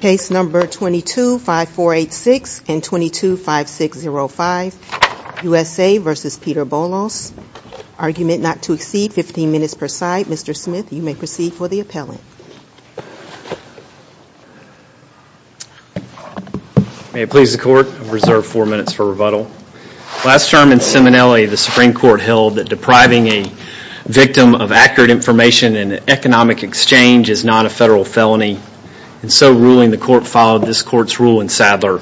Case number 22-5486 and 22-5605, U.S.A. v. Peter Bolos, Argument not to exceed 15 minutes per side. Mr. Smith, you may proceed for the appellant. May it please the Court, I reserve four minutes for rebuttal. Last term in Seminelli, the Supreme Court held that depriving a victim of accurate information in an economic exchange is not a federal felony. In so ruling, the Court followed this Court's rule in Sadler.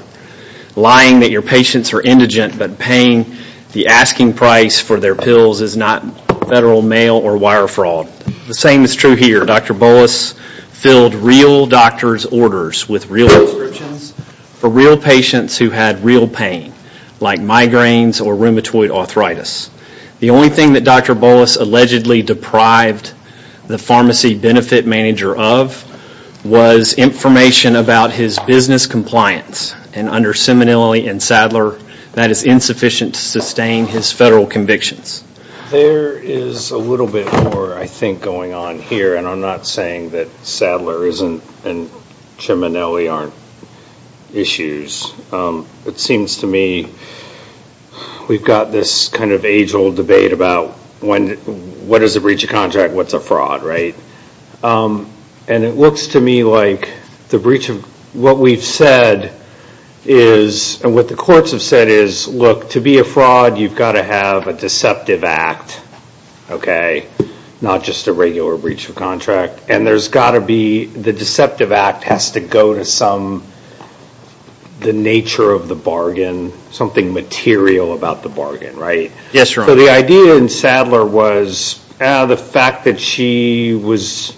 Lying that your patients are indigent but paying the asking price for their pills is not federal mail or wire fraud. The same is true here. Dr. Bolos filled real doctor's orders with real prescriptions for real patients who had real pain like migraines or rheumatoid arthritis. The only thing that Dr. Bolos allegedly deprived the pharmacy benefit manager of was information about his business compliance and under Seminelli and Sadler, that is insufficient to sustain his federal convictions. There is a little bit more, I think, going on here and I'm not saying that Sadler and Seminelli aren't issues. It seems to me we've got this kind of age old debate about what is a breach of contract, what's a fraud, right? And it looks to me like the breach of what we've said is, and what the courts have said is, look, to be a fraud, you've got to have a deceptive act, okay? Not just a regular breach of contract. And there's got to be, the deceptive act has to go to some, the nature of the bargain, something material about the bargain, right? So the idea in Sadler was the fact that she was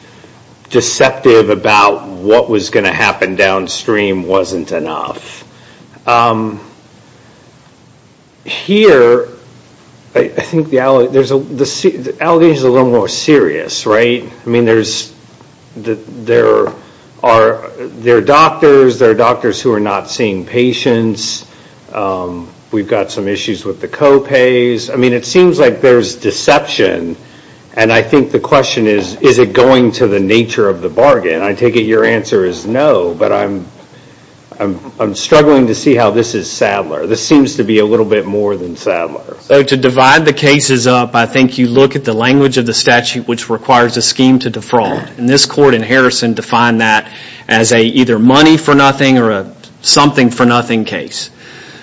deceptive about what was going to happen downstream wasn't enough. Here, I think the allegation is a little more serious, right? I mean, there are doctors, there are doctors who are not seeing patients, we've got some issues with the co-pays, I mean, it seems like there's deception and I think the question is, is it going to the nature of the bargain? And I take it your answer is no, but I'm struggling to see how this is Sadler. This seems to be a little bit more than Sadler. So to divide the cases up, I think you look at the language of the statute which requires a scheme to defraud. And this court in Harrison defined that as either a money for nothing or a something for nothing case.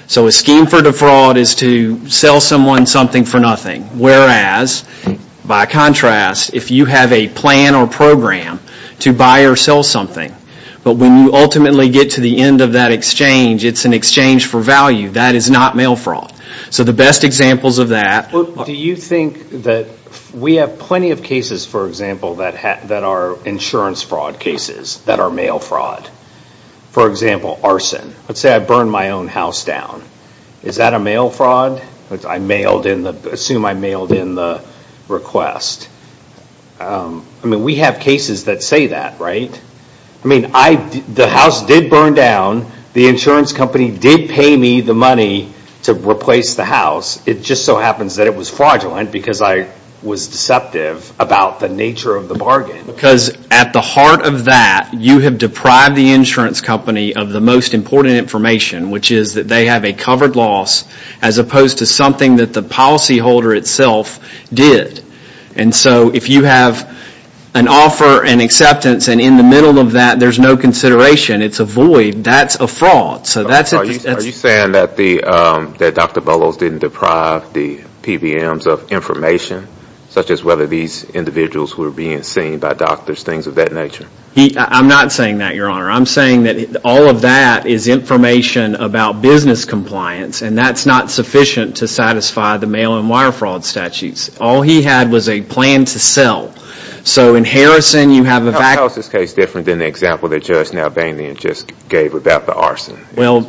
So a scheme for defraud is to sell someone something for nothing, whereas, by contrast, if you have a plan or program to buy or sell something, but when you ultimately get to the end of that exchange, it's an exchange for value, that is not mail fraud. So the best examples of that... Do you think that we have plenty of cases, for example, that are insurance fraud cases, that are mail fraud? For example, arson. Let's say I burn my own house down. Is that a mail fraud? Assume I mailed in the request. I mean, we have cases that say that, right? I mean, the house did burn down. The insurance company did pay me the money to replace the house. It just so happens that it was fraudulent because I was deceptive about the nature of the bargain. Because at the heart of that, you have deprived the insurance company of the most important information, which is that they have a covered loss as opposed to something that the policyholder itself did. And so, if you have an offer, an acceptance, and in the middle of that, there's no consideration, it's a void, that's a fraud. Are you saying that Dr. Bellows didn't deprive the PBMs of information, such as whether these individuals were being seen by doctors, things of that nature? I'm not saying that, Your Honor. I'm saying that all of that is information about business compliance, and that's not sufficient to satisfy the mail and wire fraud statutes. All he had was a plan to sell. So, in Harrison, you have a vacuum. How is this case different than the example that Judge Nalbanian just gave about the arson? Well,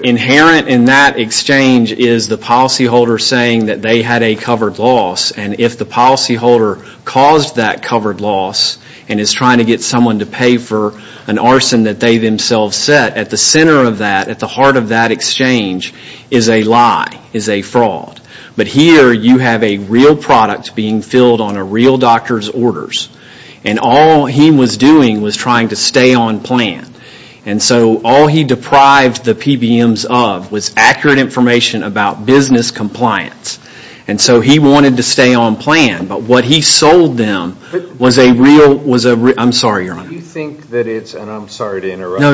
inherent in that exchange is the policyholder saying that they had a covered loss, and if the policyholder caused that covered loss, and is trying to get someone to pay for an arson that they themselves set, at the center of that, at the heart of that exchange, is a lie, is a fraud. But here, you have a real product being filled on a real doctor's orders, and all he was doing was trying to stay on plan. And so, all he deprived the PBMs of was accurate information about business compliance. And so, he wanted to stay on plan, but what he sold them was a real, I'm sorry, Your Honor. Do you think that it's, and I'm sorry to interrupt.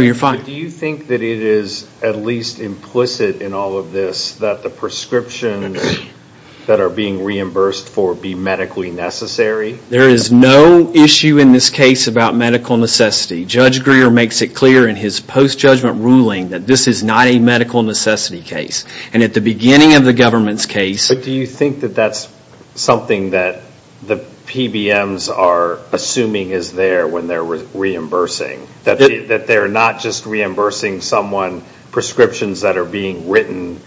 That are being reimbursed for being medically necessary? There is no issue in this case about medical necessity. Judge Greer makes it clear in his post-judgment ruling that this is not a medical necessity case. And at the beginning of the government's case... But do you think that that's something that the PBMs are assuming is there when they're reimbursing? That they're not just reimbursing someone prescriptions that are being written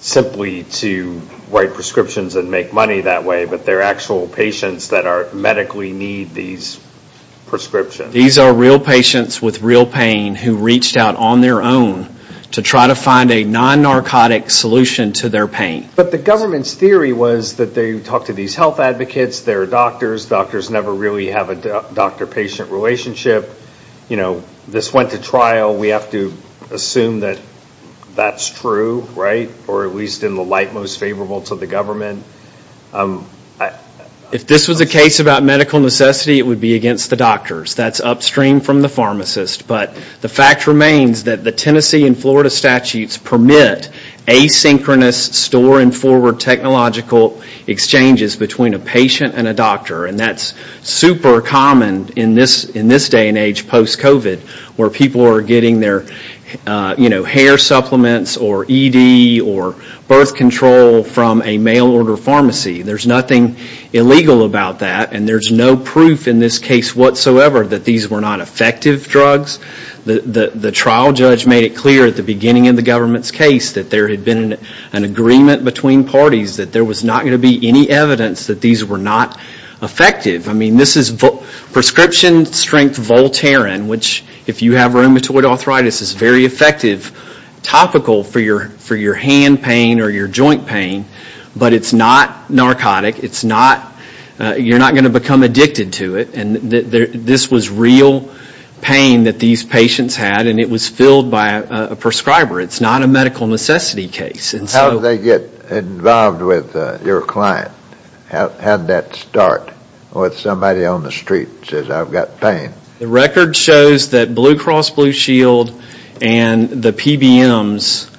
simply to write prescriptions and make money that way, but they're actual patients that are medically need these prescriptions? These are real patients with real pain who reached out on their own to try to find a non-narcotic solution to their pain. But the government's theory was that they talked to these health advocates, they're doctors, doctors never really have a doctor-patient relationship. You know, this went to trial, we have to assume that that's true, right? Or at least in the light most favorable to the government. If this was a case about medical necessity, it would be against the doctors. That's upstream from the pharmacist. But the fact remains that the Tennessee and Florida statutes permit asynchronous store-and-forward technological exchanges between a patient and a doctor and that's super common in this day and age post-COVID where people are getting their hair supplements or ED or birth control from a mail-order pharmacy. There's nothing illegal about that and there's no proof in this case whatsoever that these were not effective drugs. The trial judge made it clear at the beginning of the government's case that there had been an agreement between parties that there was not going to be any evidence that these were not effective. I mean, this is prescription-strength Voltaren, which if you have rheumatoid arthritis is very effective, topical for your hand pain or your joint pain, but it's not narcotic. It's not, you're not going to become addicted to it. And this was real pain that these patients had and it was filled by a prescriber. It's not a medical necessity case. How did they get involved with your client? How did that start with somebody on the street who says, I've got pain? The record shows that Blue Cross Blue Shield and the PBMs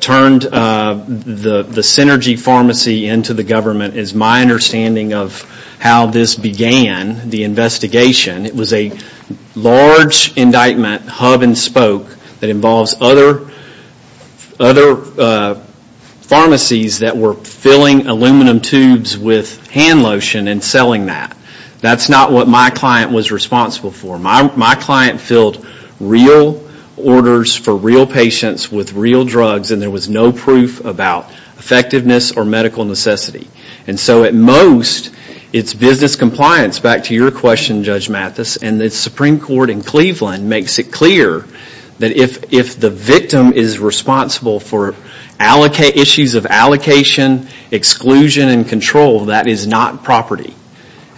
turned the Synergy Pharmacy into the government is my understanding of how this began, the investigation. It was a large indictment, hub and spoke, that involves other pharmacies that were filling aluminum tubes with hand lotion and selling that. That's not what my client was responsible for. My client filled real orders for real patients with real drugs and there was no proof about effectiveness or medical necessity. And so at most, it's business compliance. Back to your question, Judge Mathis, and the Supreme Court in Cleveland makes it clear that if the victim is responsible for issues of allocation, exclusion, and control, that is not property.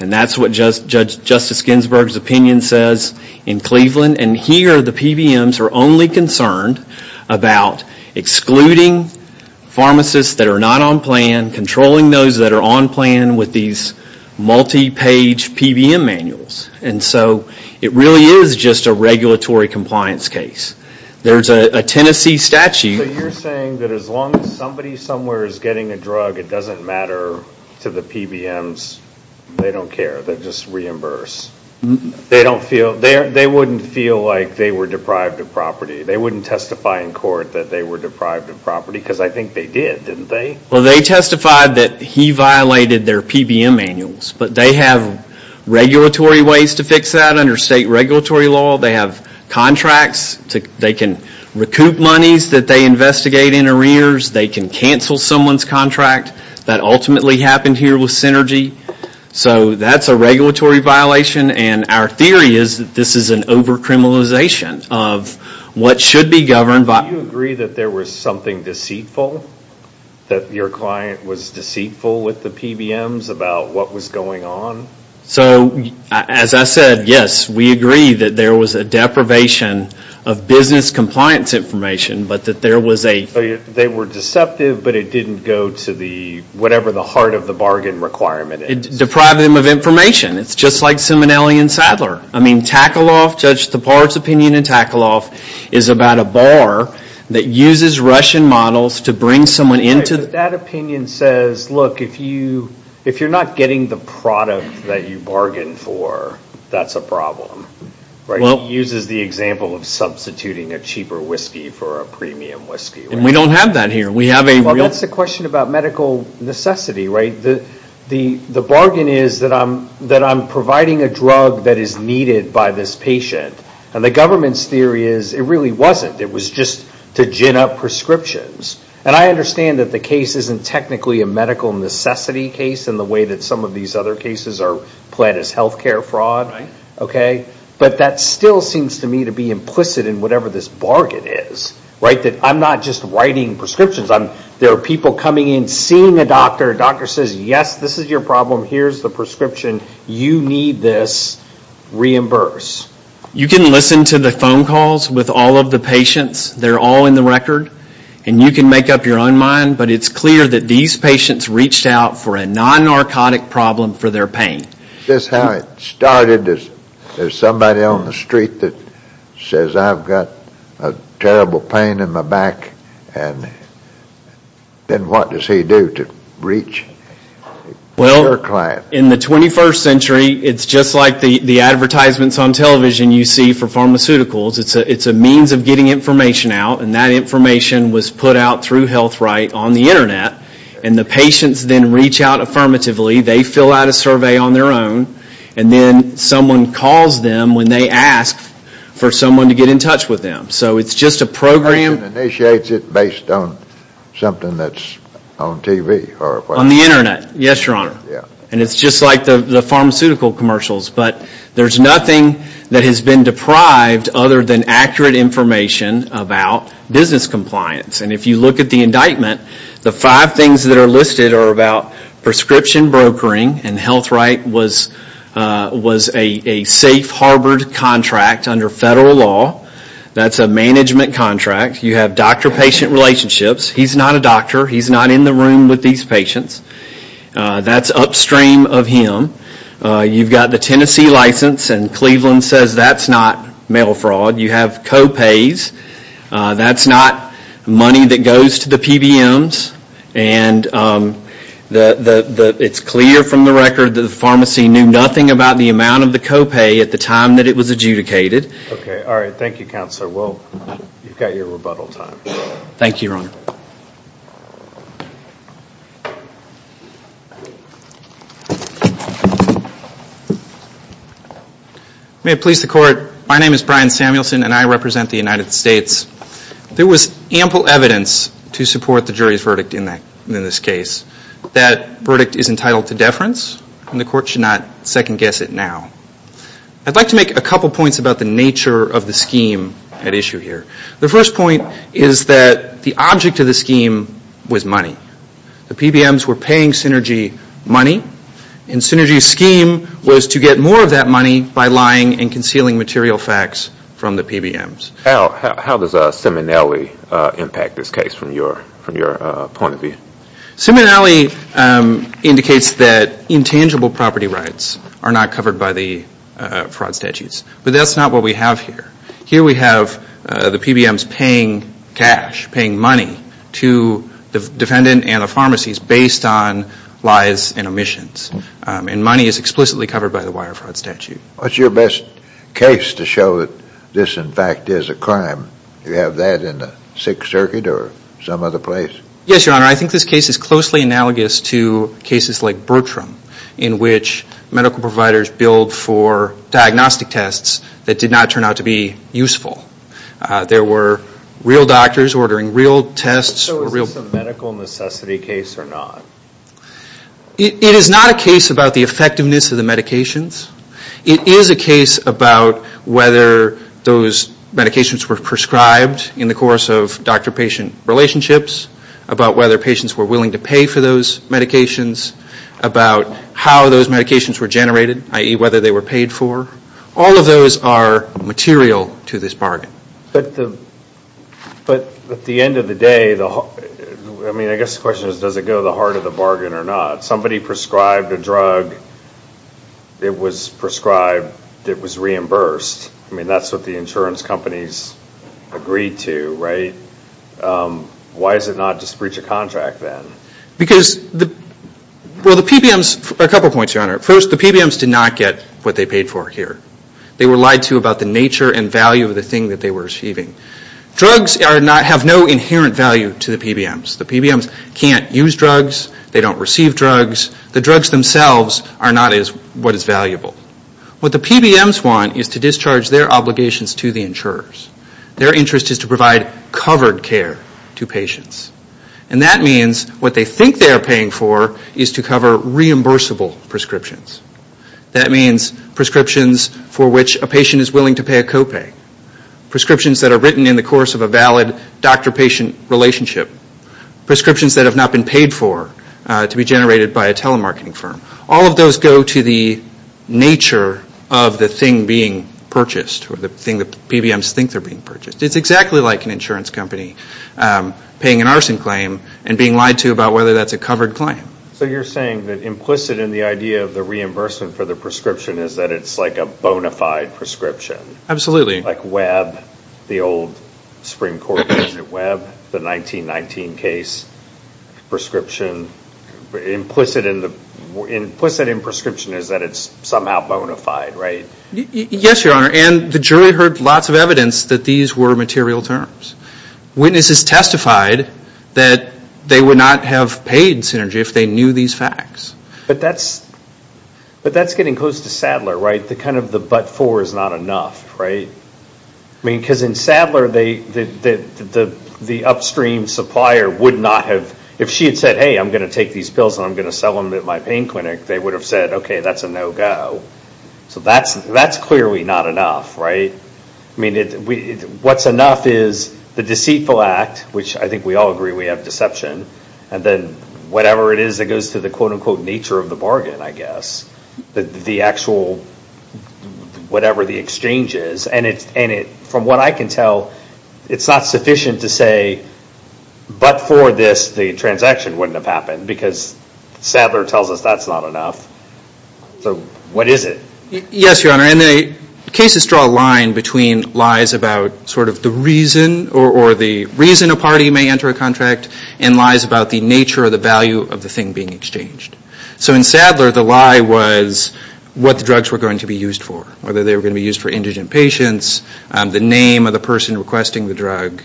And that's what Justice Ginsburg's opinion says in Cleveland. And here the PBMs are only concerned about excluding pharmacists that are not on plan, controlling those that are on plan with these multi-page PBM manuals. And so it really is just a regulatory compliance case. There's a Tennessee statute. So you're saying that as long as somebody somewhere is getting a drug, it doesn't matter to the PBMs. They don't care. They just reimburse. They wouldn't feel like they were deprived of property. They wouldn't testify in court that they were deprived of property because I think they did, didn't they? Well, they testified that he violated their PBM manuals. But they have regulatory ways to fix that under state regulatory law. They have contracts. They can recoup monies that they investigate in arrears. They can cancel someone's contract. That ultimately happened here with Synergy. So that's a regulatory violation. And our theory is that this is an over-criminalization of what should be governed by. Do you agree that there was something deceitful? That your client was deceitful with the PBMs about what was going on? So as I said, yes, we agree that there was a deprivation of business compliance information. But that there was a. They were deceptive, but it didn't go to the whatever the heart of the bargain requirement is. Deprive them of information. It's just like Simonelli and Sadler. I mean, Tackle-Off, Judge Tapar's opinion in Tackle-Off is about a bar that uses Russian models to bring someone into. That opinion says, look, if you're not getting the product that you bargained for, that's a problem. It uses the example of substituting a cheaper whiskey for a premium whiskey. And we don't have that here. That's the question about medical necessity, right? The bargain is that I'm providing a drug that is needed by this patient. And the government's theory is it really wasn't. It was just to gin up prescriptions. And I understand that the case isn't technically a medical necessity case in the way that some of these other cases are planned as health care fraud. But that still seems to me to be implicit in whatever this bargain is. That I'm not just writing prescriptions. There are people coming in, seeing a doctor. A doctor says, yes, this is your problem. Here's the prescription. You need this. Reimburse. You can listen to the phone calls with all of the patients. They're all in the record. And you can make up your own mind. But it's clear that these patients reached out for a non-narcotic problem for their pain. This is how it started. There's somebody on the street that says, I've got a terrible pain in my back. And then what does he do to reach your client? Well, in the 21st century, it's just like the advertisements on television you see for pharmaceuticals. It's a means of getting information out. And that information was put out through HealthRight on the internet. And the patients then reach out affirmatively. They fill out a survey on their own. And then someone calls them when they ask for someone to get in touch with them. So it's just a program. And it initiates it based on something that's on TV? On the internet, yes, Your Honor. And it's just like the pharmaceutical commercials. But there's nothing that has been deprived other than accurate information about business compliance. And if you look at the indictment, the five things that are listed are about prescription brokering. And HealthRight was a safe, harbored contract under federal law. That's a management contract. You have doctor-patient relationships. He's not a doctor. He's not in the room with these patients. That's upstream of him. You've got the Tennessee license. And Cleveland says that's not mail fraud. You have co-pays. That's not money that goes to the PBMs. And it's clear from the record that the pharmacy knew nothing about the amount of the co-pay at the time that it was adjudicated. Okay. All right. Thank you, Counselor. You've got your rebuttal time. Thank you, Your Honor. May it please the Court. My name is Brian Samuelson, and I represent the United States. There was ample evidence to support the jury's verdict in this case. That verdict is entitled to deference, and the Court should not second-guess it now. I'd like to make a couple points about the nature of the scheme at issue here. The first point is that the object of the scheme was money. The PBMs were paying Synergy money, and Synergy's scheme was to get more of that money by lying and concealing material facts from the PBMs. How does Simonelli impact this case from your point of view? Simonelli indicates that intangible property rights are not covered by the fraud statutes, but that's not what we have here. Here we have the PBMs paying cash, paying money to the defendant and the pharmacies based on lies and omissions, and money is explicitly covered by the wire fraud statute. What's your best case to show that this, in fact, is a crime? Do you have that in the Sixth Circuit or some other place? Yes, Your Honor. I think this case is closely analogous to cases like Bertram, in which medical providers billed for diagnostic tests that did not turn out to be useful. There were real doctors ordering real tests. So is this a medical necessity case or not? It is not a case about the effectiveness of the medications. It is a case about whether those medications were prescribed in the course of doctor-patient relationships, about whether patients were willing to pay for those medications, about how those medications were generated, i.e., whether they were paid for. All of those are material to this bargain. But at the end of the day, I mean, I guess the question is, does it go to the heart of the bargain or not? Somebody prescribed a drug. It was prescribed. It was reimbursed. I mean, that's what the insurance companies agreed to, right? Why does it not just breach a contract then? Well, a couple of points, Your Honor. First, the PBMs did not get what they paid for here. They were lied to about the nature and value of the thing that they were receiving. Drugs have no inherent value to the PBMs. The PBMs can't use drugs. They don't receive drugs. The drugs themselves are not what is valuable. What the PBMs want is to discharge their obligations to the insurers. Their interest is to provide covered care to patients. And that means what they think they are paying for is to cover reimbursable prescriptions. That means prescriptions for which a patient is willing to pay a copay, prescriptions that are written in the course of a valid doctor-patient relationship, prescriptions that have not been paid for to be generated by a telemarketing firm. All of those go to the nature of the thing being purchased or the thing the PBMs think they're being purchased. It's exactly like an insurance company paying an arson claim and being lied to about whether that's a covered claim. So you're saying that implicit in the idea of the reimbursement for the prescription is that it's like a bona fide prescription? Absolutely. Like Webb, the old Supreme Court case at Webb, the 1919 case, implicit in prescription is that it's somehow bona fide, right? Yes, Your Honor. And the jury heard lots of evidence that these were material terms. Witnesses testified that they would not have paid Synergy if they knew these facts. But that's getting close to Sadler, right? The kind of the but-for is not enough, right? I mean, because in Sadler, the upstream supplier would not have – if she had said, hey, I'm going to take these pills and I'm going to sell them at my pain clinic, they would have said, okay, that's a no-go. So that's clearly not enough, right? I mean, what's enough is the deceitful act, which I think we all agree we have deception, and then whatever it is that goes to the quote-unquote nature of the bargain, I guess. The actual whatever the exchange is. And from what I can tell, it's not sufficient to say, but for this, the transaction wouldn't have happened because Sadler tells us that's not enough. So what is it? Yes, Your Honor, and the cases draw a line between lies about sort of the reason or the reason a party may enter a contract and lies about the nature or the value of the thing being exchanged. So in Sadler, the lie was what the drugs were going to be used for, whether they were going to be used for indigent patients, the name of the person requesting the drug.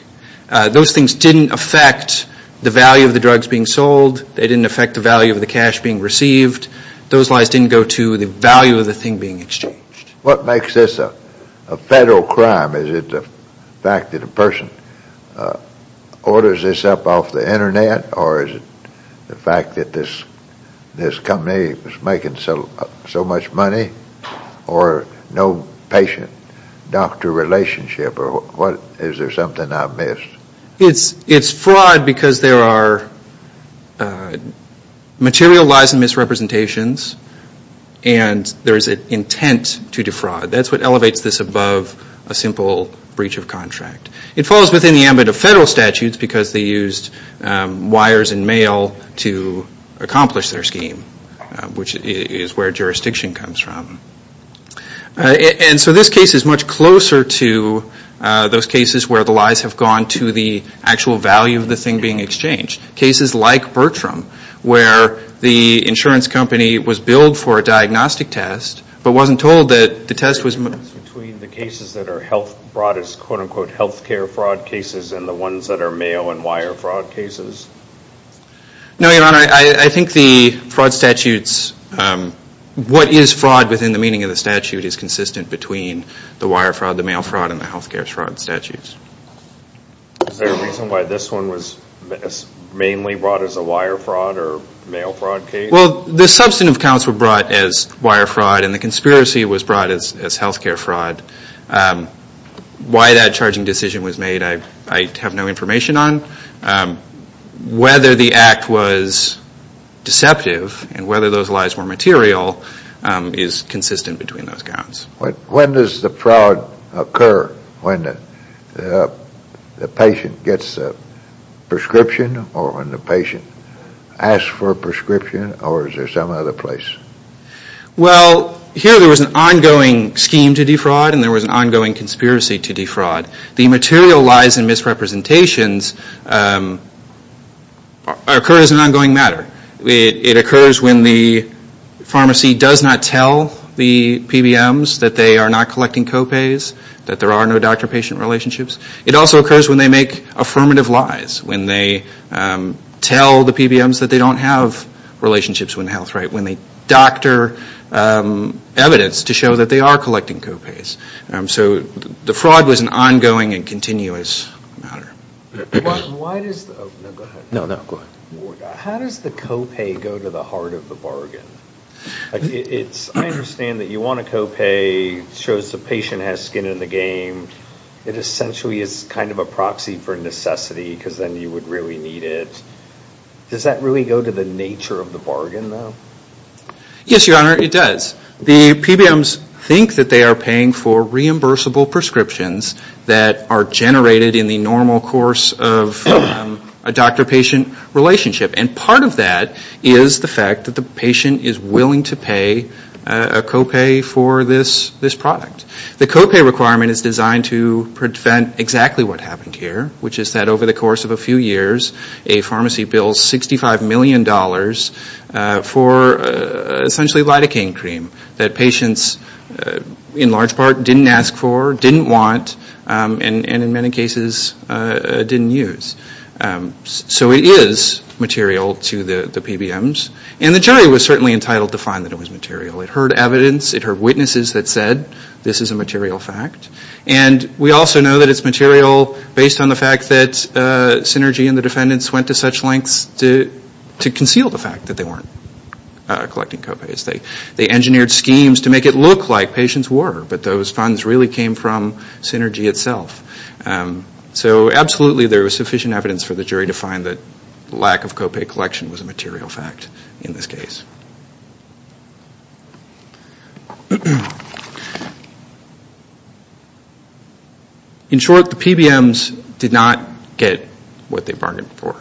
Those things didn't affect the value of the drugs being sold. They didn't affect the value of the cash being received. Those lies didn't go to the value of the thing being exchanged. What makes this a federal crime? Is it the fact that a person orders this up off the Internet, or is it the fact that this company was making so much money, or no patient-doctor relationship, or is there something I've missed? It's fraud because there are material lies and misrepresentations, and there is an intent to defraud. That's what elevates this above a simple breach of contract. It falls within the ambit of federal statutes because they used wires and mail to accomplish their scheme, which is where jurisdiction comes from. And so this case is much closer to those cases where the lies have gone to the actual value of the thing being exchanged. Cases like Bertram, where the insurance company was billed for a diagnostic test, but wasn't told that the test was... Is there a difference between the cases that are brought as quote-unquote healthcare fraud cases and the ones that are mail and wire fraud cases? No, Your Honor. I think the fraud statutes, what is fraud within the meaning of the statute is consistent between the wire fraud, the mail fraud, and the healthcare fraud statutes. Is there a reason why this one was mainly brought as a wire fraud or mail fraud case? Well, the substantive counts were brought as wire fraud and the conspiracy was brought as healthcare fraud. Why that charging decision was made I have no information on. Whether the act was deceptive and whether those lies were material is consistent between those counts. When does the fraud occur? When the patient gets a prescription or when the patient asks for a prescription or is there some other place? Well, here there was an ongoing scheme to defraud and there was an ongoing conspiracy to defraud. The material lies and misrepresentations occur as an ongoing matter. It occurs when the pharmacy does not tell the PBMs that they are not collecting copays, that there are no doctor-patient relationships. It also occurs when they make affirmative lies, when they tell the PBMs that they don't have relationships with Health Right, when they doctor evidence to show that they are collecting copays. So the fraud was an ongoing and continuous matter. Why does the copay go to the heart of the bargain? I understand that you want a copay that shows the patient has skin in the game. It essentially is kind of a proxy for necessity because then you would really need it. Does that really go to the nature of the bargain though? Yes, Your Honor, it does. The PBMs think that they are paying for reimbursable prescriptions that are generated in the normal course of a doctor-patient relationship. And part of that is the fact that the patient is willing to pay a copay for this product. The copay requirement is designed to prevent exactly what happened here, which is that over the course of a few years, a pharmacy bills $65 million for essentially lidocaine cream that patients in large part didn't ask for, didn't want, and in many cases didn't use. So it is material to the PBMs. And the jury was certainly entitled to find that it was material. It heard evidence. It heard witnesses that said this is a material fact. And we also know that it's material based on the fact that Synergy and the defendants went to such lengths to conceal the fact that they weren't collecting copays. They engineered schemes to make it look like patients were, but those funds really came from Synergy itself. So absolutely there was sufficient evidence for the jury to find that lack of copay collection was a material fact in this case. In short, the PBMs did not get what they bargained for.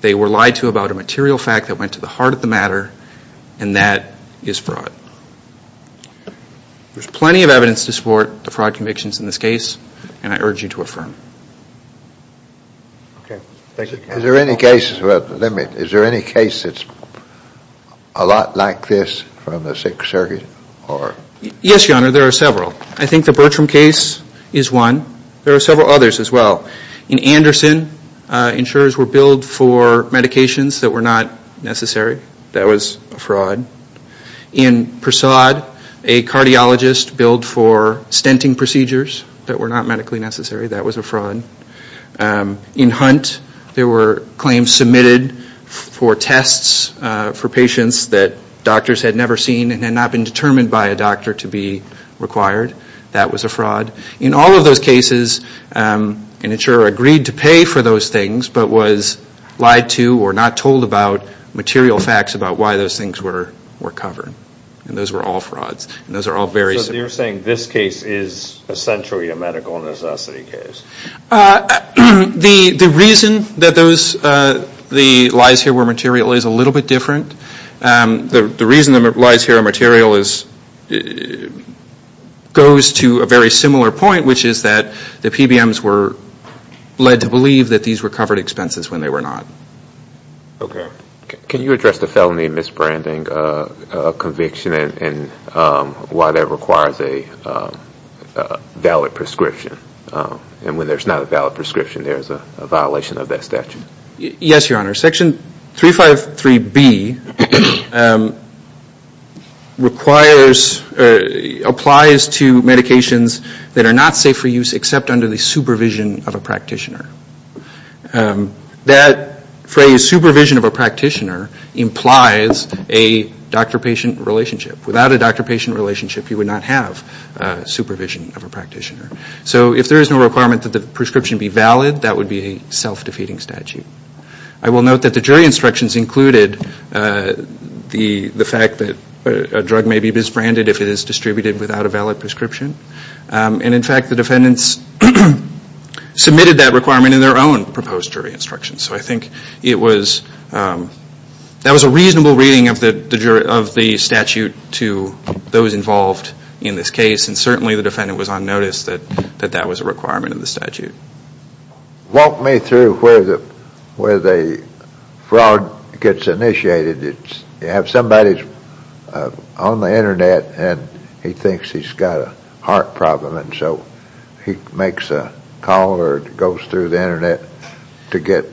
They were lied to about a material fact that went to the heart of the matter, and that is fraud. There's plenty of evidence to support the fraud convictions in this case, and I urge you to affirm. Is there any case that's a lot like this from the Sixth Circuit? Yes, Your Honor. There are several. I think the Bertram case is one. There are several others as well. In Anderson, insurers were billed for medications that were not necessary. That was a fraud. In Persaud, a cardiologist billed for stenting procedures that were not medically necessary. That was a fraud. In Hunt, there were claims submitted for tests for patients that doctors had never seen and had not been determined by a doctor to be required. That was a fraud. In all of those cases, an insurer agreed to pay for those things, but was lied to or not told about material facts about why those things were covered. Those were all frauds. You're saying this case is essentially a medical necessity case. The reason that the lies here were material is a little bit different. The reason the lies here are material goes to a very similar point, which is that the PBMs were led to believe that these were covered expenses when they were not. Can you address the felony misbranding conviction and why that requires a valid prescription? When there's not a valid prescription, there's a violation of that statute. Yes, Your Honor. Section 353B applies to medications that are not safe for use except under the supervision of a practitioner. That phrase, supervision of a practitioner, implies a doctor-patient relationship. Without a doctor-patient relationship, you would not have supervision of a practitioner. So if there is no requirement that the prescription be valid, that would be a self-defeating statute. I will note that the jury instructions included the fact that a drug may be misbranded if it is distributed without a valid prescription. And in fact, the defendants submitted that requirement in their own proposed jury instructions. So I think that was a reasonable reading of the statute to those involved in this case, and certainly the defendant was on notice that that was a requirement in the statute. Walk me through where the fraud gets initiated. You have somebody on the Internet, and he thinks he's got a heart problem, and so he makes a call or goes through the Internet to get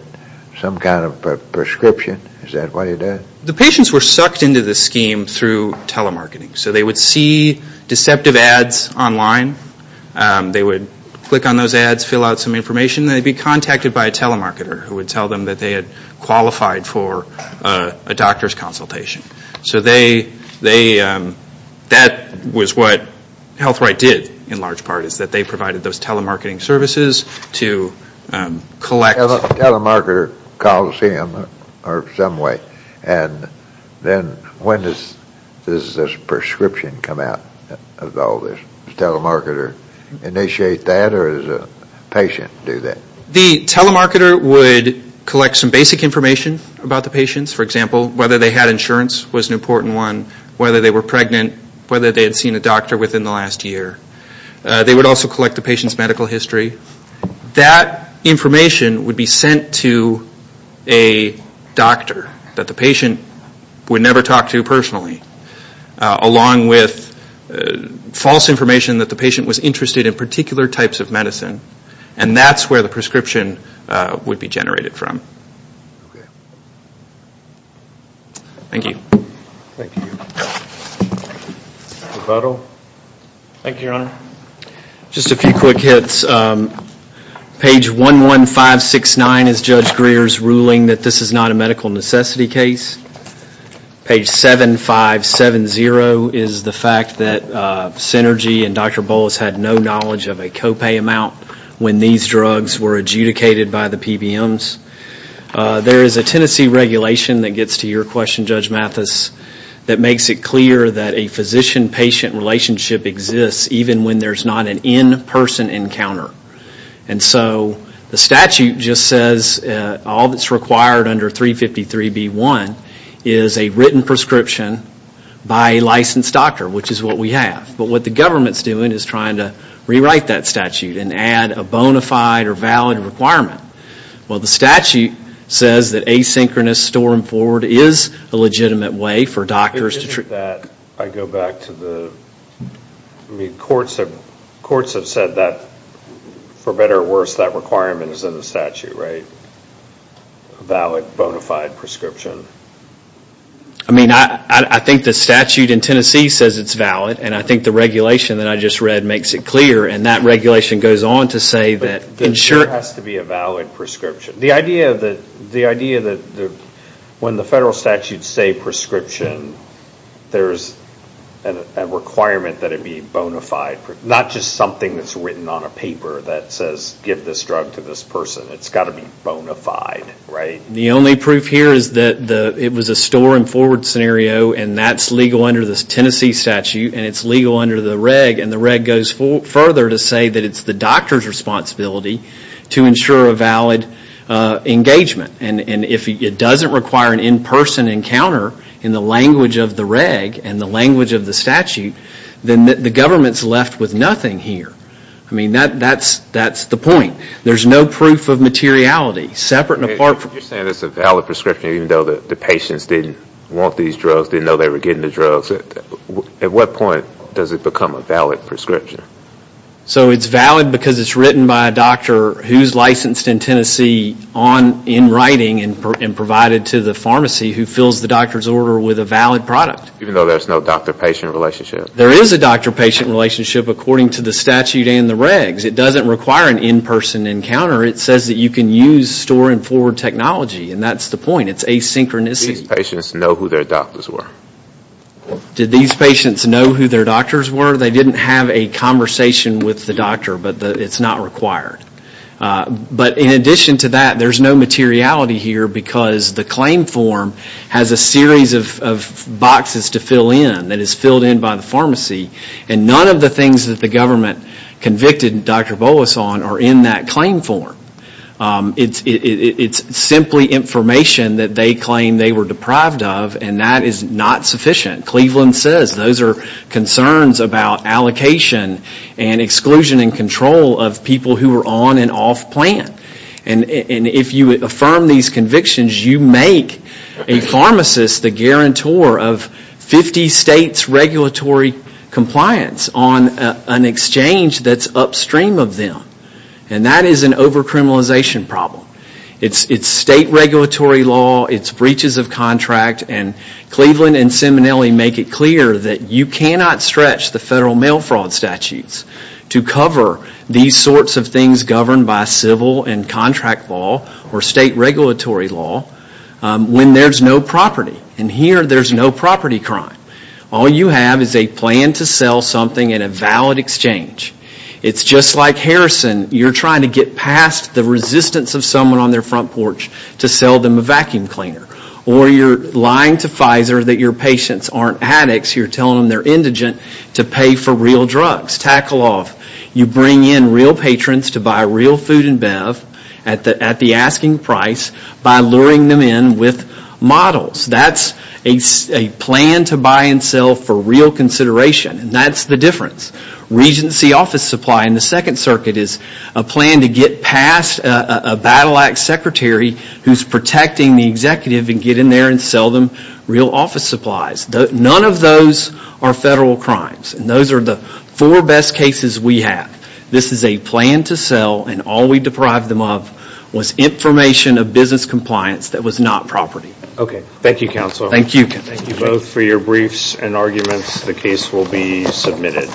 some kind of a prescription. Is that what he did? The patients were sucked into the scheme through telemarketing. So they would see deceptive ads online. They would click on those ads, fill out some information, and they would be contacted by a telemarketer who would tell them that they had qualified for a doctor's consultation. So that was what HealthRight did in large part, is that they provided those telemarketing services to collect… A telemarketer calls him or some way, and then when does this prescription come out of all this? Does the telemarketer initiate that, or does the patient do that? The telemarketer would collect some basic information about the patients. For example, whether they had insurance was an important one, whether they were pregnant, whether they had seen a doctor within the last year. They would also collect the patient's medical history. That information would be sent to a doctor that the patient would never talk to personally, along with false information that the patient was interested in particular types of medicine, and that's where the prescription would be generated from. Thank you. Thank you. Mr. Buttle. Thank you, Your Honor. Just a few quick hits. Page 11569 is Judge Greer's ruling that this is not a medical necessity case. Page 7570 is the fact that Synergy and Dr. Bowles had no knowledge of a copay amount when these drugs were adjudicated by the PBMs. There is a Tennessee regulation that gets to your question, Judge Mathis, that makes it clear that a physician-patient relationship exists even when there's not an in-person encounter. And so the statute just says all that's required under 353B1 is a written prescription by a licensed doctor, which is what we have. But what the government's doing is trying to rewrite that statute and add a bona fide or valid requirement. Well, the statute says that asynchronous storm forward is a legitimate way for doctors to treat... I go back to the... I mean, courts have said that, for better or worse, that requirement is in the statute, right? A valid, bona fide prescription? I mean, I think the statute in Tennessee says it's valid, and I think the regulation that I just read makes it clear, and that regulation goes on to say that... It sure has to be a valid prescription. The idea that when the federal statutes say prescription, there's a requirement that it be bona fide, not just something that's written on a paper that says give this drug to this person. It's got to be bona fide, right? The only proof here is that it was a storm forward scenario, and that's legal under the Tennessee statute, and it's legal under the reg, and the reg goes further to say that it's the doctor's responsibility to ensure a valid engagement. And if it doesn't require an in-person encounter in the language of the reg and the language of the statute, then the government's left with nothing here. I mean, that's the point. There's no proof of materiality, separate and apart from... You're saying it's a valid prescription even though the patients didn't want these drugs, didn't know they were getting the drugs. At what point does it become a valid prescription? So it's valid because it's written by a doctor who's licensed in Tennessee in writing and provided to the pharmacy who fills the doctor's order with a valid product. Even though there's no doctor-patient relationship? There is a doctor-patient relationship according to the statute and the regs. It doesn't require an in-person encounter. It says that you can use storm forward technology, and that's the point. It's asynchronous. Did these patients know who their doctors were? Did these patients know who their doctors were? They didn't have a conversation with the doctor, but it's not required. But in addition to that, there's no materiality here because the claim form has a series of boxes to fill in that is filled in by the pharmacy, and none of the things that the government convicted Dr. Boas on are in that claim form. It's simply information that they claim they were deprived of, and that is not sufficient. Cleveland says those are concerns about allocation and exclusion and control of people who are on and off plant. And if you affirm these convictions, you make a pharmacist the guarantor of 50 states' regulatory compliance on an exchange that's upstream of them, and that is an over-criminalization problem. It's state regulatory law. It's breaches of contract. And Cleveland and Simonelli make it clear that you cannot stretch the federal mail fraud statutes to cover these sorts of things governed by civil and contract law or state regulatory law when there's no property. And here, there's no property crime. All you have is a plan to sell something in a valid exchange. It's just like Harrison. You're trying to get past the resistance of someone on their front porch to sell them a vacuum cleaner, or you're lying to Pfizer that your patients aren't addicts. You're telling them they're indigent to pay for real drugs. Tackle off. You bring in real patrons to buy real food and bev at the asking price by luring them in with models. That's a plan to buy and sell for real consideration, and that's the difference. Regency office supply in the Second Circuit is a plan to get past a battle act secretary who's protecting the executive and get in there and sell them real office supplies. None of those are federal crimes, and those are the four best cases we have. This is a plan to sell, and all we deprived them of was information of business compliance that was not property. Okay. Thank you, Counsel. Thank you. Thank you both for your briefs and arguments. The case will be submitted.